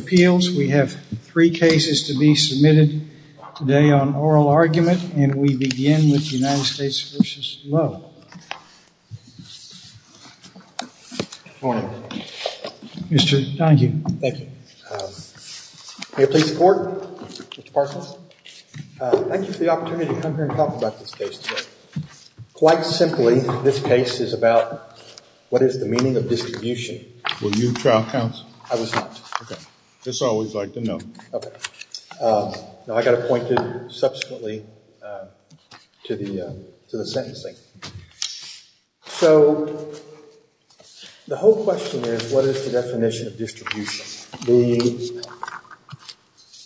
appeals. We have three cases to be submitted today on oral argument, and we begin with United States v. Lowe. Good morning. Mr. Donohue. Thank you. May I please report, Mr. Parsons? Thank you for the opportunity to come here and talk about this case today. Quite simply, this case is about what is the meaning of distribution. Were you trial counsel? I was not. Okay. Just always like to know. Okay. Now, I got appointed subsequently to the sentencing. So, the whole question is what is the definition of distribution? The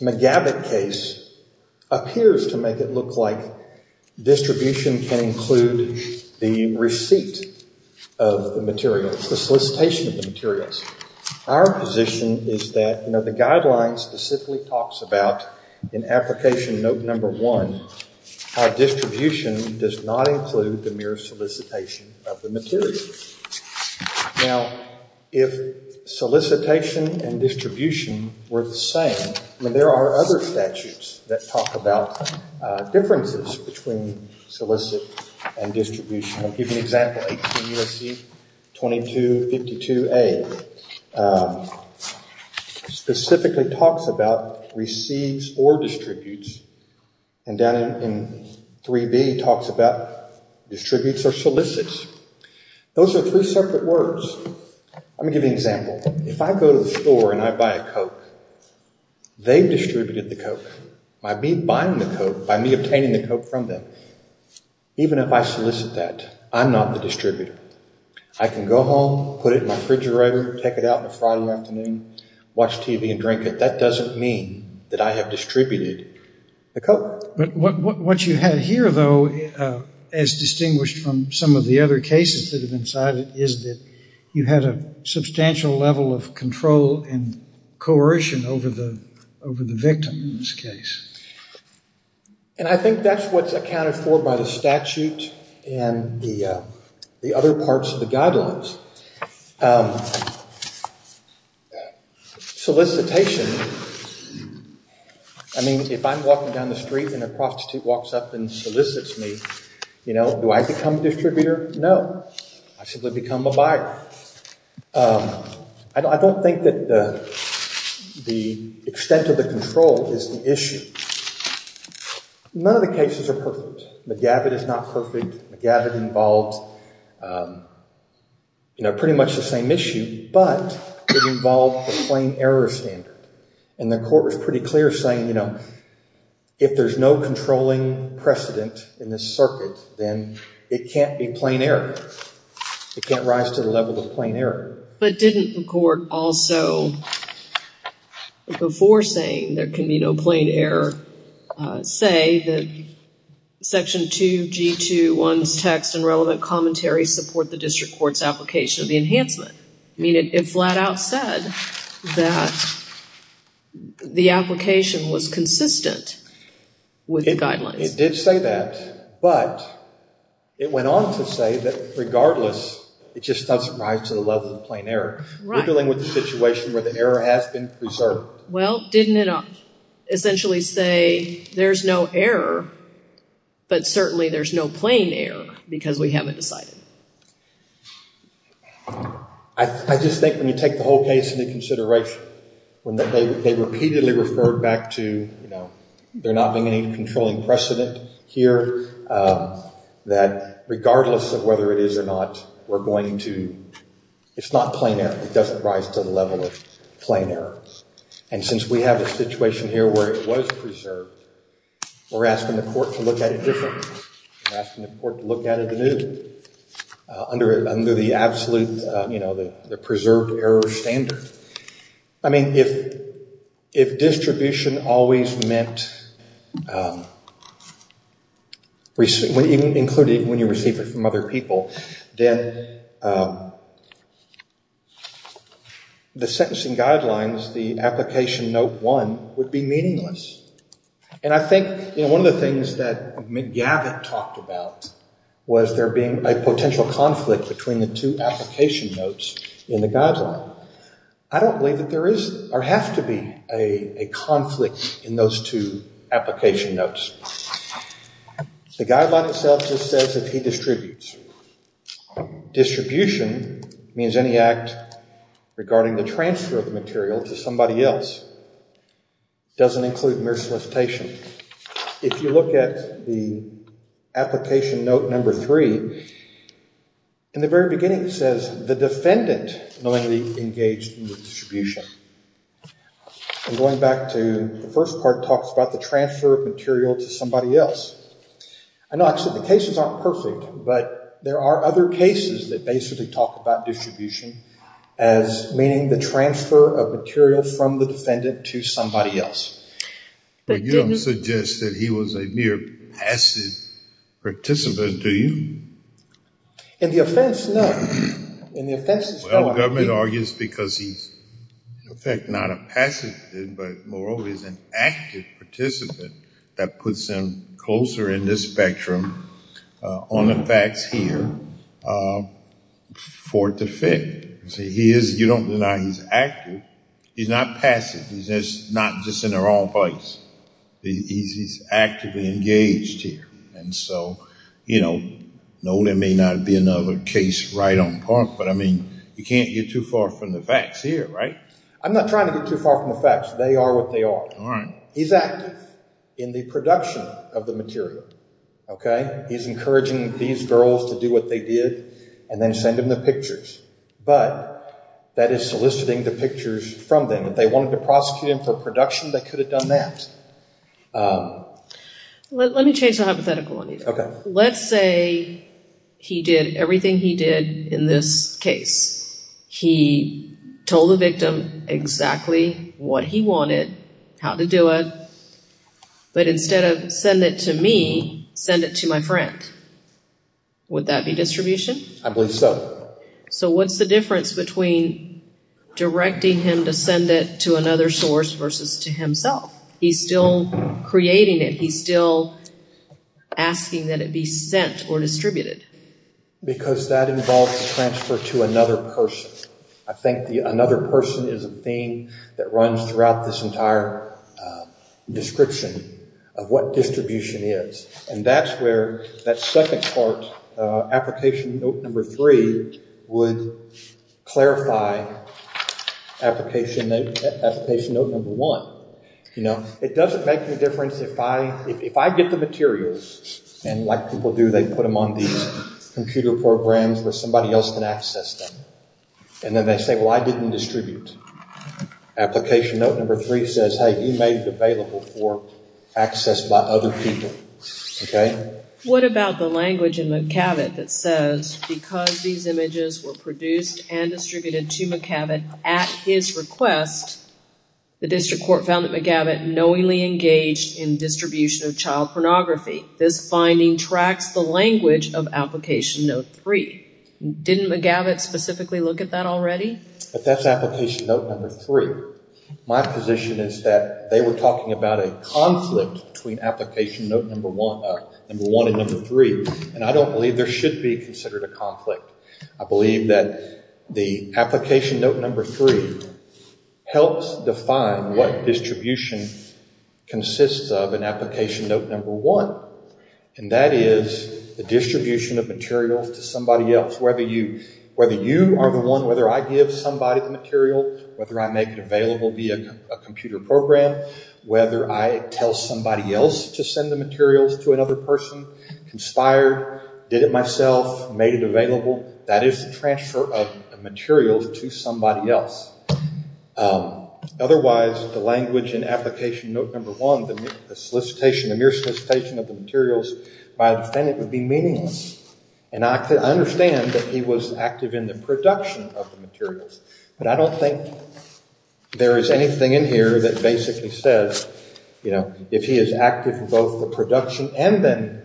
McGabbitt case appears to make it look like distribution can include the receipt of the materials, the solicitation of the materials. Our position is that, you know, the guidelines specifically talks about, in application note number one, how distribution does not include the mere solicitation of the materials. Now, if solicitation and distribution were the same, I mean, there are other statutes that talk about differences between solicit and distribution. I'll give you an example, Title 18 U.S.C. 2252A specifically talks about receipts or distributes, and down in 3B talks about distributes or solicits. Those are three separate words. Let me give you an example. If I go to the store and I buy a Coke, they've distributed the Coke by me buying the Coke, or by me obtaining the Coke from them. Even if I solicit that, I'm not the distributor. I can go home, put it in my refrigerator, take it out on a Friday afternoon, watch TV and drink it. That doesn't mean that I have distributed the Coke. But what you have here, though, as distinguished from some of the other cases that have been cited, is that you have a substantial level of control and coercion over the victim in this case. And I think that's what's accounted for by the statute and the other parts of the guidelines. Solicitation, I mean, if I'm walking down the street and a prostitute walks up and solicits me, do I become a distributor? No. I simply become a buyer. I don't think that the extent of the control is the issue. None of the cases are perfect. McGavitt is not perfect. McGavitt involved pretty much the same issue, but it involved the plain error standard. And the court was pretty clear saying, if there's no controlling precedent in this circuit, then it can't be plain error. It can't rise to the level of plain error. But didn't the court also, before saying there can be no plain error, say that Section 2G21's text and relevant commentary support the district court's application of the enhancement? I mean, it flat out said that the application was consistent with the guidelines. It did say that, but it went on to say that regardless, it just doesn't rise to the level of plain error. We're dealing with a situation where the error has been preserved. Well, didn't it essentially say there's no error, but certainly there's no plain error, because we haven't decided? I just think when you take the whole case into consideration, when they repeatedly referred back to, you know, there not being any controlling precedent here, that regardless of whether it is or not, we're going to, it's not plain error. It doesn't rise to the level of plain error. And since we have a situation here where it was preserved, we're asking the court to look at it differently. We're asking the court to look at it anew under the absolute, you know, the preserved error standard. I mean, if distribution always meant, including when you receive it from other people, then the sentencing guidelines, the application Note 1, would be meaningless. And I think, you know, one of the things that McGavitt talked about was there being a potential conflict between the two application notes in the guideline. I don't believe that there is or have to be a conflict in those two application notes. The guideline itself just says that he distributes. Distribution means any act regarding the transfer of material to somebody else. It doesn't include mere solicitation. If you look at the application Note 3, in the very beginning it says, the defendant knowingly engaged in the distribution. And going back to the first part, it talks about the transfer of material to somebody else. I know I said the cases aren't perfect, but there are other cases that basically talk about distribution as meaning the transfer of material from the defendant to somebody else. But you don't suggest that he was a mere passive participant, do you? In the offense, no. Well, the government argues because he's, in effect, not a passive, but moreover, he's an active participant. That puts him closer in this spectrum on the facts here for the fit. You don't deny he's active. He's not passive. He's not just in the wrong place. He's actively engaged here. And so, you know, no, there may not be another case right on point, but, I mean, you can't get too far from the facts here, right? I'm not trying to get too far from the facts. They are what they are. He's active in the production of the material, okay? He's encouraging these girls to do what they did and then send him the pictures. But that is soliciting the pictures from them. If they wanted to prosecute him for production, they could have done that. Let me change the hypothetical on you. Okay. Let's say he did everything he did in this case. He told the victim exactly what he wanted, how to do it, but instead of send it to me, send it to my friend. Would that be distribution? I believe so. So what's the difference between directing him to send it to another source versus to himself? He's still creating it. He's still asking that it be sent or distributed. Because that involves transfer to another person. I think the another person is a theme that runs throughout this entire description of what distribution is. And that's where that second part, application note number three, would clarify application note number one. You know, it doesn't make any difference if I get the materials, and like people do, they put them on these computer programs where somebody else can access them. And then they say, well, I didn't distribute. Application note number three says, hey, you made it available for access by other people. What about the language in McAvitt that says, because these images were produced and distributed to McAvitt at his request, the district court found that McAvitt knowingly engaged in distribution of child pornography. This finding tracks the language of application note three. Didn't McAvitt specifically look at that already? But that's application note number three. My position is that they were talking about a conflict between application note number one and number three. And I don't believe there should be considered a conflict. I believe that the application note number three helps define what distribution consists of in application note number one. And that is the distribution of materials to somebody else, whether you are the one, whether I give somebody the material, whether I make it available via a computer program, whether I tell somebody else to send the materials to another person, conspired, did it myself, made it available, that is the transfer of materials to somebody else. Otherwise, the language in application note number one, the solicitation, the mere solicitation of the materials, by a defendant would be meaningless. And I understand that he was active in the production of the materials. But I don't think there is anything in here that basically says, you know, if he is active in both the production and then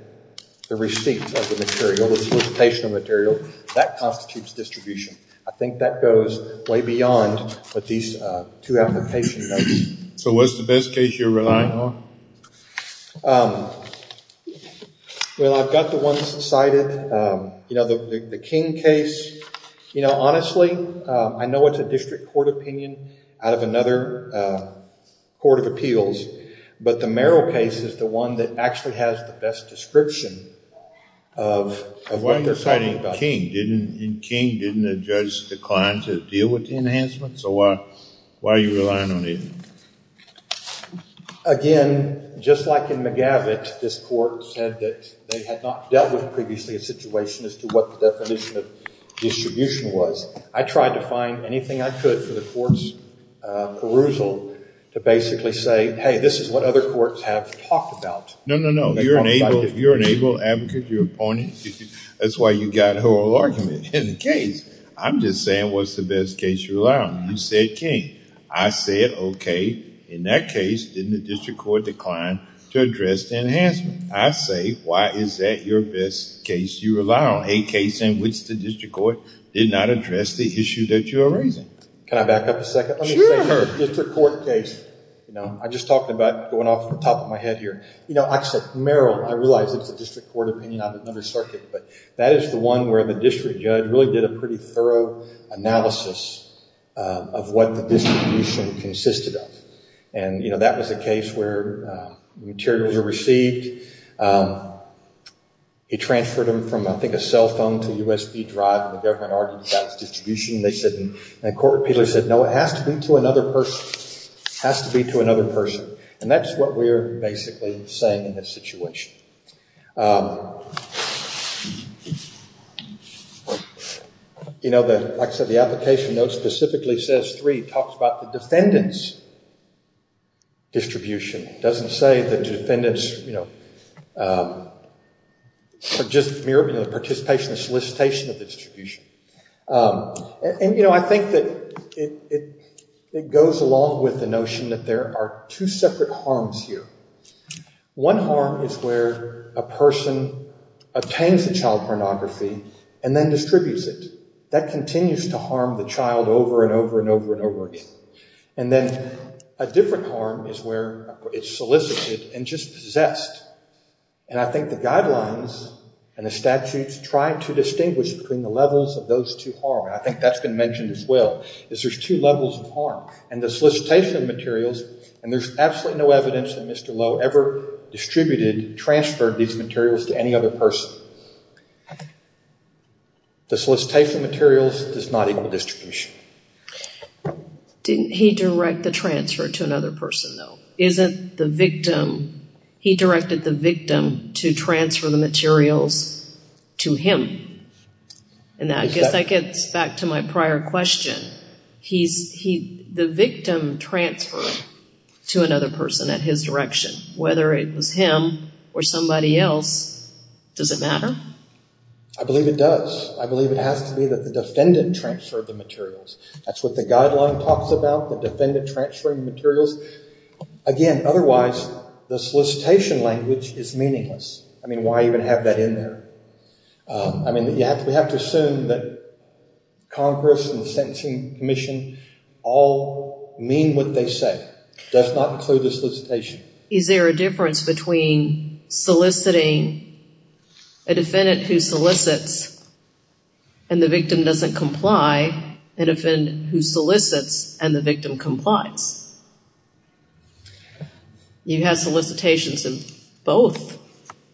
the receipt of the material, the solicitation of material, that constitutes distribution. I think that goes way beyond what these two application notes. So what's the best case you're relying on? Well, I've got the ones cited. You know, the King case, you know, honestly, I know it's a district court opinion out of another court of appeals. But the Merrill case is the one that actually has the best description of what they're citing. Why are you citing King? Didn't King judge the client to deal with the enhancements? So why are you relying on it? Again, just like in McGavitt, this court said that they had not dealt with previously a situation as to what the definition of distribution was. I tried to find anything I could for the court's perusal to basically say, hey, this is what other courts have talked about. No, no, no. You're an able advocate, you're appointed. That's why you've got oral argument. In the case, I'm just saying what's the best case you rely on. You said King. I said, okay, in that case, didn't the district court decline to address the enhancement? I say, why is that your best case you rely on? A case in which the district court did not address the issue that you're raising. Can I back up a second? Sure. District court case. I just talked about going off the top of my head here. Actually, Merrill, I realize it's a district court opinion on another circuit, but that is the one where the district judge really did a pretty thorough analysis of what the distribution consisted of. That was a case where materials were received. He transferred them from, I think, a cell phone to a USB drive, and the government argued about its distribution. They said, and the court repeatedly said, no, it has to be to another person. It has to be to another person. That's what we're basically saying in this situation. Like I said, the application note specifically says three. It talks about the defendant's distribution. It doesn't say that the defendant's participation or solicitation of the distribution. I think that it goes along with the notion that there are two separate harms here. One harm is where a person obtains a child pornography and then distributes it. That continues to harm the child over and over and over and over again. Then a different harm is where it's solicited and just possessed. I think the guidelines and the statutes try to distinguish between the levels of those two harms. I think that's been mentioned as well, is there's two levels of harm. The solicitation of materials, and there's absolutely no evidence that Mr. Lowe ever distributed, transferred these materials to any other person. The solicitation of materials does not equal distribution. Didn't he direct the transfer to another person, though? Isn't the victim, he directed the victim to transfer the materials to him? I guess that gets back to my prior question. The victim transferred to another person at his direction. Whether it was him or somebody else, does it matter? I believe it does. I believe it has to be that the defendant transferred the materials. That's what the guideline talks about, the defendant transferring materials. Again, otherwise, the solicitation language is meaningless. Why even have that in there? We have to assume that Congress and the Sentencing Commission all mean what they say. It does not include the solicitation. Is there a difference between soliciting a defendant who solicits and the victim doesn't comply, and a defendant who solicits and the victim complies? You have solicitations in both,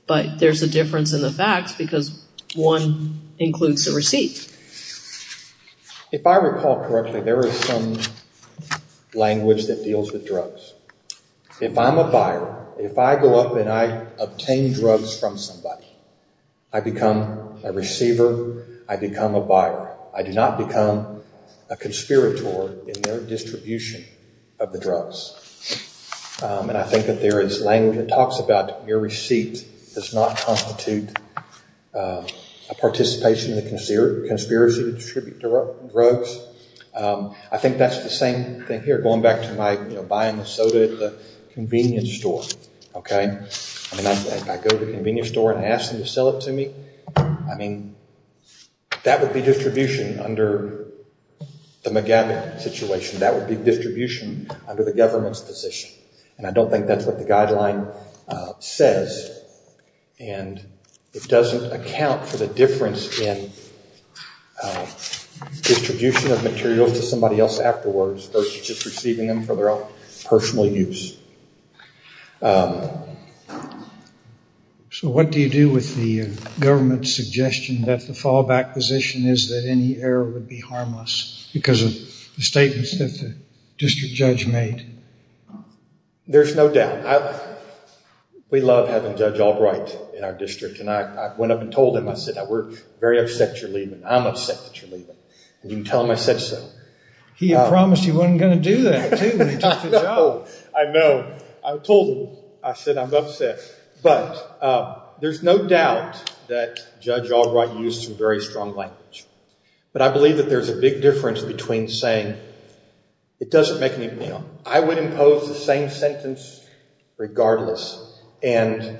but there's a difference in the facts because one includes the receipt. If I recall correctly, there is some language that deals with drugs. If I'm a buyer, if I go up and I obtain drugs from somebody, I become a receiver, I become a buyer. I do not become a conspirator in their distribution of the drugs. I think that there is language that talks about your receipt does not constitute a participation in the conspiracy to distribute drugs. I think that's the same thing here, going back to my buying the soda at the convenience store. If I go to the convenience store and ask them to sell it to me, that would be distribution under the McGavin situation. That would be distribution under the government's position. I don't think that's what the guideline says. It doesn't account for the difference in distribution of materials to somebody else afterwards, versus just receiving them for their own personal use. So what do you do with the government's suggestion that the fallback position is that any error would be harmless, because of the statements that the district judge made? There's no doubt. We love having Judge Albright in our district. I went up and told him, I said, we're very upset that you're leaving. I'm upset that you're leaving. You can tell him I said so. He had promised he wasn't going to do that, too, when he took the job. I know. I told him. I said, I'm upset. But there's no doubt that Judge Albright used some very strong language. But I believe that there's a big difference between saying it doesn't make any... I would impose the same sentence regardless, and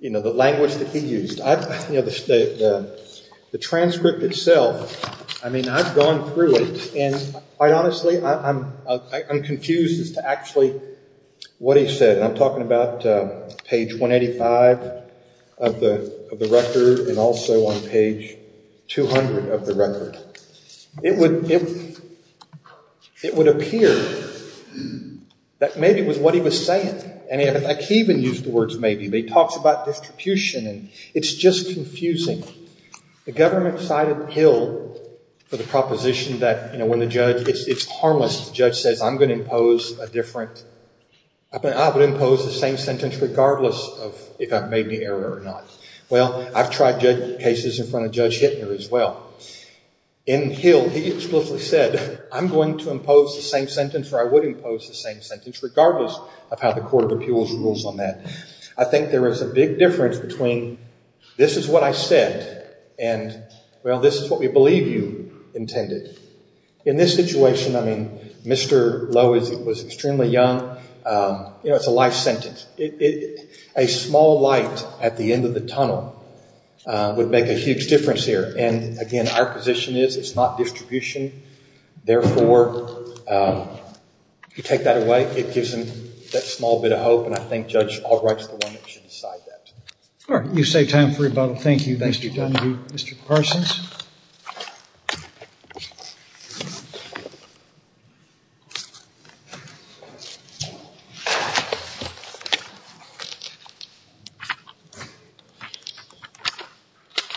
the language that he used. The transcript itself, I've gone through it, and quite honestly, I'm confused as to actually what he said. I'm talking about page 185 of the record, and also on page 200 of the record. It would appear that maybe it was what he was saying. And he even used the words maybe. But he talks about distribution, and it's just confusing. The government cited Hill for the proposition that when it's harmless, the judge says, I'm going to impose a different... I would impose the same sentence regardless of if I've made the error or not. Well, I've tried cases in front of Judge Hittner as well. In Hill, he explicitly said, I'm going to impose the same sentence, or I would impose the same sentence, regardless of how the Court of Appeals rules on that. I think there is a big difference between this is what I said, and well, this is what we believe you intended. In this situation, I mean, Mr. Lowe was extremely young. It's a life sentence. A small light at the end of the tunnel would make a huge difference here. And again, our position is it's not distribution. Therefore, if you take that away, it gives him that small bit of hope. And I think Judge Albright's the one that should decide that. All right. You've saved time for rebuttal. Thank you, Mr. Dunwoody. Mr. Parsons?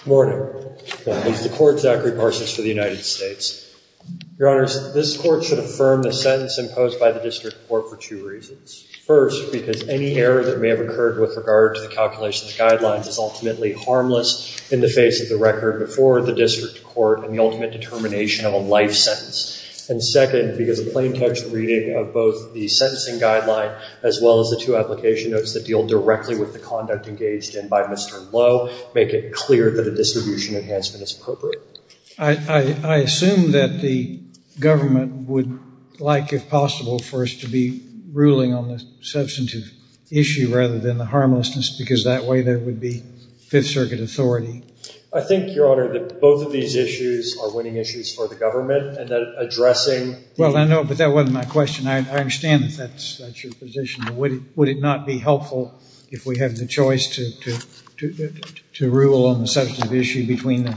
Good morning. I'm Mr. Court's Zachary Parsons for the United States. Your Honors, this Court should affirm the sentence imposed by the District Court for two reasons. First, because any error that may have occurred with regard to the calculations guidelines is ultimately harmless in the face of the record before the District Court and the ultimate determination of a life sentence. And second, because a plain text reading of both the sentencing guideline as well as the two application notes that deal directly with the conduct engaged in by Mr. Lowe make it clear that a distribution enhancement is appropriate. I assume that the government would like, if possible, for us to be ruling on the substantive issue rather than the harmlessness, because that way there would be Fifth Circuit authority. I think, Your Honor, that both of these issues are winning issues for the government and that addressing... Well, I know, but that wasn't my question. I understand that that's your position. Would it not be helpful if we have the choice to rule on the substantive issue between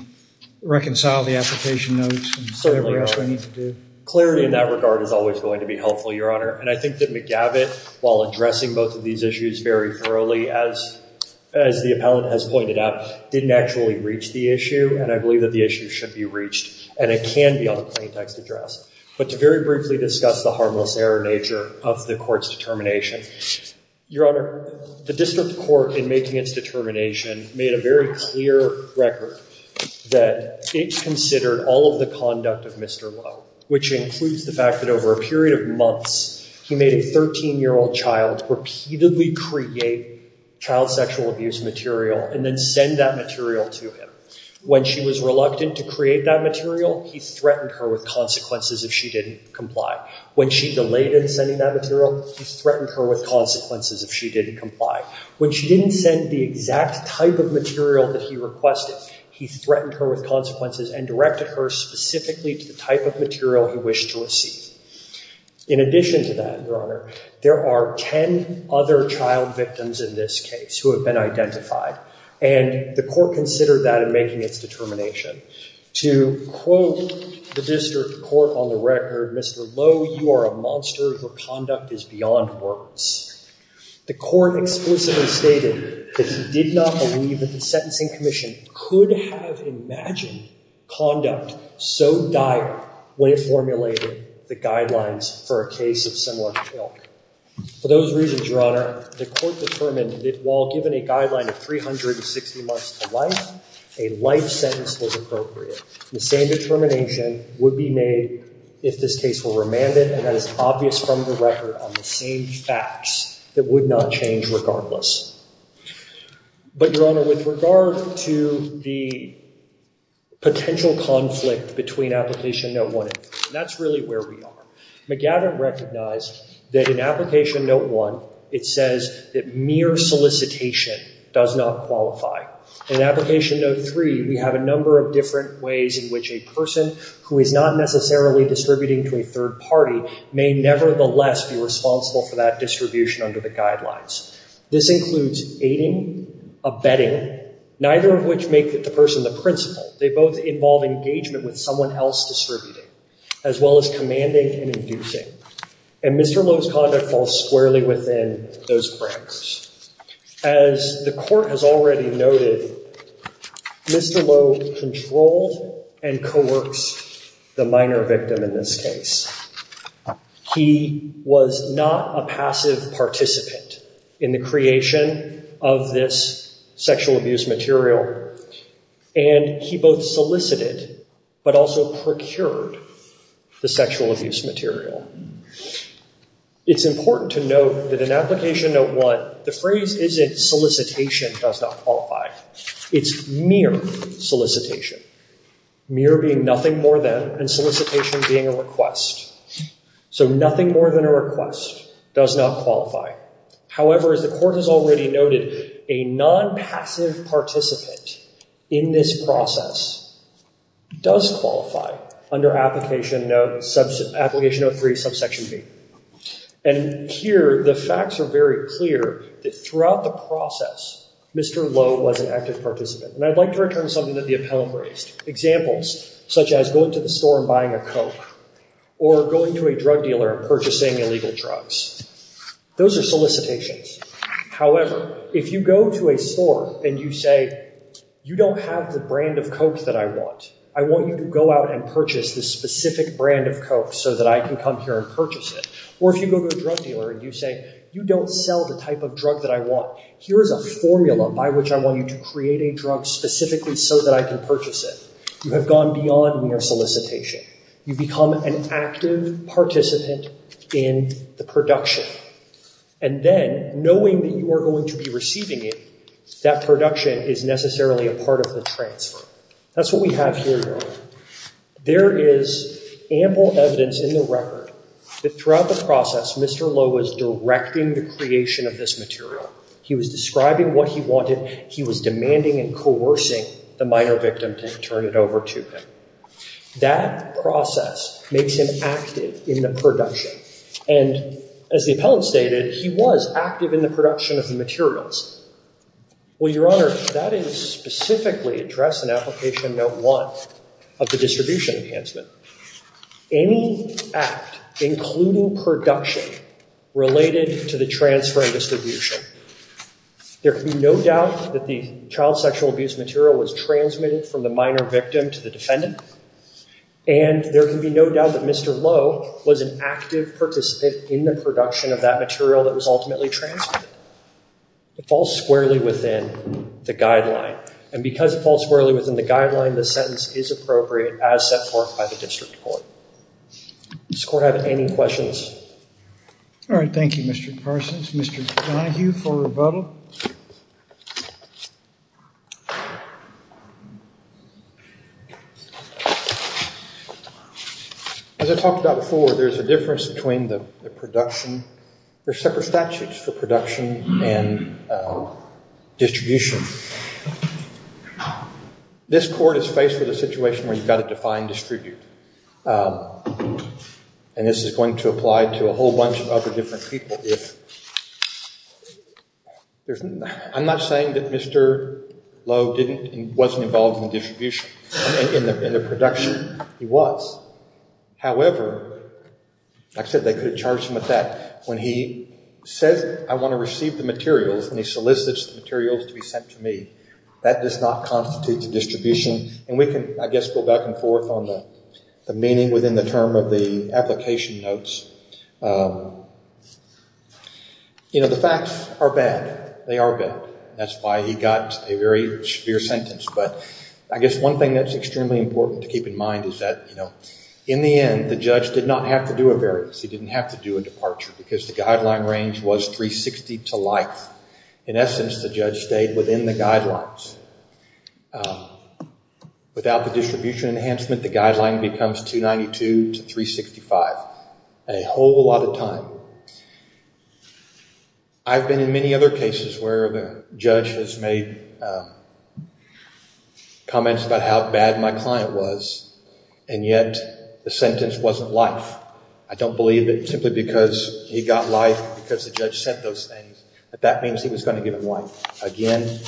reconcile the application notes and whatever else we need to do? Clarity in that regard is always going to be helpful, Your Honor. And I think that McGavitt, while addressing both of these issues very thoroughly, as the appellant has pointed out, didn't actually reach the issue. And I believe that the issue should be reached and it can be on a plain text address. But to very briefly discuss the harmless error nature of the Court's determination, Your Honor, the District Court, in making its determination, made a very clear record that it considered all of the conduct of Mr. Lowe, which includes the fact that over a period of months, he made a 13-year-old child repeatedly create child sexual abuse material and then send that material to him. When she was reluctant to create that material, he threatened her with consequences if she didn't comply. When she delayed in sending that material, he threatened her with consequences if she didn't comply. When she didn't send the exact type of material that he requested, he threatened her with consequences and directed her specifically to the type of material he wished to receive. In addition to that, Your Honor, there are 10 other child victims in this case who have been identified. And the Court considered that in making its determination. To quote the District Court on the record, Mr. Lowe, you are a monster, your conduct is beyond words. The Court explicitly stated that he did not believe that the Sentencing Commission could have imagined conduct so dire when it formulated the guidelines for a case of similar ilk. For those reasons, Your Honor, the Court determined that while given a guideline of 360 months to life, a life sentence was appropriate. The same determination would be made if this case were remanded, and that is obvious from the record on the same facts, that would not change regardless. But Your Honor, with regard to the potential conflict between Application Note 1 and 3, that's really where we are. McGavin recognized that in Application Note 1, it says that mere solicitation does not qualify. In Application Note 3, we have a number of different ways in which a person who is not necessarily distributing to a third party may nevertheless be responsible for that distribution under the guidelines. This includes aiding, abetting, neither of which make the person the principal. They both involve engagement with someone else distributing, as well as commanding and inducing. And Mr. Lowe's conduct falls squarely within those brackets. As the Court has already noted, Mr. Lowe controlled and coerced the minor victim in this case. He was not a passive participant in the creation of this sexual abuse material, and he both solicited but also procured the sexual abuse material. It's important to note that in Application Note 1, the phrase isn't solicitation does not qualify. It's mere solicitation. Mere being nothing more than, and solicitation being a request. So nothing more than a request does not qualify. However, as the Court has already noted, a non-passive participant in this process does qualify under Application Note 3, Subsection B. And here, the facts are very clear that throughout the process, Mr. Lowe was an active participant. And I'd like to return to something that the Appellant raised. Examples such as going to the store and buying a Coke, or going to a drug dealer and purchasing illegal drugs. Those are solicitations. However, if you go to a store and you say, you don't have the brand of Coke that I want, I want you to go out and purchase this specific brand of Coke so that I can come here and purchase it. Or if you go to a drug dealer and you say, you don't sell the type of drug that I want, here's a formula by which I want you to create a drug specifically so that I can purchase it. You have gone beyond mere solicitation. You've become an active participant in the production. And then, knowing that you are going to be receiving it, that production is necessarily a part of the transfer. That's what we have here. However, there is ample evidence in the record that throughout the process, Mr. Lowe was directing the creation of this material. He was describing what he wanted. He was demanding and coercing the minor victim to turn it over to him. That process makes him active in the production. And as the Appellant stated, he was active in the production of the materials. Well, Your Honor, that is specifically addressed in Application Note 1 of the Distribution Enhancement. Any act, including production, related to the transfer and distribution, there can be no doubt that the child sexual abuse material was transmitted from the minor victim to the defendant. And there can be no doubt that Mr. Lowe was an active participant in the production of that material that was ultimately transferred. It falls squarely within the guideline. And because it falls squarely within the guideline, the sentence is appropriate as set forth by the District Court. Does the Court have any questions? All right. Thank you, Mr. Parsons. Mr. Donohue for rebuttal. As I talked about before, there's a difference between the production. There's separate statutes for production and distribution. This Court is faced with a situation where you've got to define distribute. And this is going to apply to a whole bunch of other different people if... I'm not saying that Mr. Lowe wasn't involved in the distribution, in the production. He was. However, like I said, they could have charged him with that when he says, I want to receive the materials and he solicits the materials to be sent to me. That does not constitute the distribution. And we can, I guess, go back and forth on the meaning within the term of the application notes. You know, the facts are bad. They are bad. That's why he got a very severe sentence. But I guess one thing that's extremely important to keep in mind is that, you know, in the end, the judge did not have to do a variance. He didn't have to do a departure because the guideline range was 360 to life. In essence, the judge stayed within the guidelines. Without the distribution enhancement, the guideline becomes 292 to 365. A whole lot of time. I've been in many other cases where the judge has made comments about how bad my client was and yet the sentence wasn't life. I don't believe that simply because he got life because the judge said those things, that that means he was going to give him life. Again,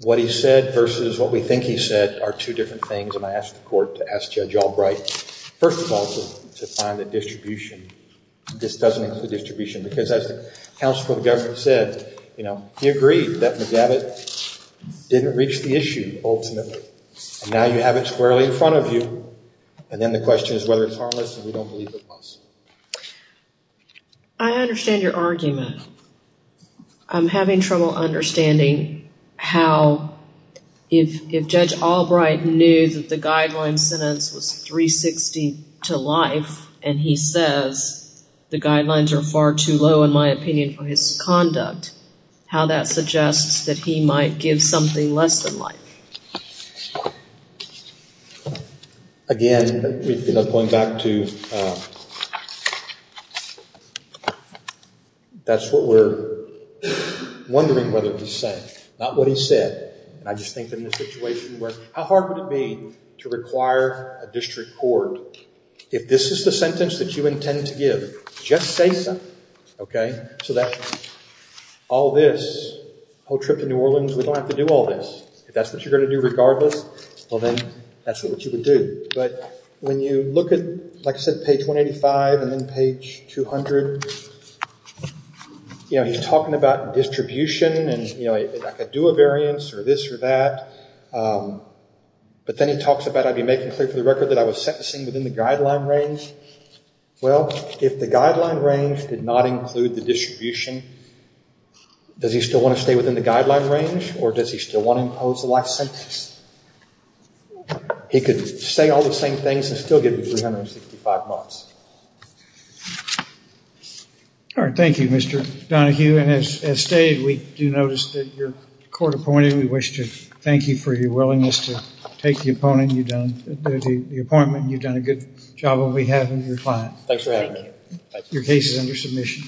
what he said versus what we think he said are two different things and I asked the court to ask Judge Albright, first of all, to find the distribution. This doesn't include distribution because as the counsel for the government said, you know, he agreed that McGavitt didn't reach the issue ultimately. And now you have it squarely in front of you. And then the question is whether it's harmless and we don't believe it's possible. I understand your argument. I'm having trouble understanding how if Judge Albright knew that the guideline sentence was 360 to life and he says the guidelines are far too low in my opinion for his conduct, how that suggests that he might give something less than life. Again, going back to that's what we're wondering whether he said. Not what he said. I just think in this situation where how hard would it be to require a district court if this is the sentence that you intend to give, just say so. So that all this, whole trip to New Orleans, we don't have to do all this. If that's what you're going to do regardless, well then that's what you would do. But when you look at, like I said, page 185 and then page 200, he's talking about distribution and I could do a variance or this or that. But then he talks about I'd be making clear for the record that I was sentencing within the guideline range. Well, if the guideline range did not include the distribution, does he still want to stay within the guideline range or does he still want to impose a life sentence? He could say all the same things and still get 365 months. All right. Thank you, Mr. Donohue. And as stated, we do notice that you're court appointed. We wish to thank you for your willingness to take the appointment. You've done a good job on behalf of your client. Thanks for having me. Your case is under submission.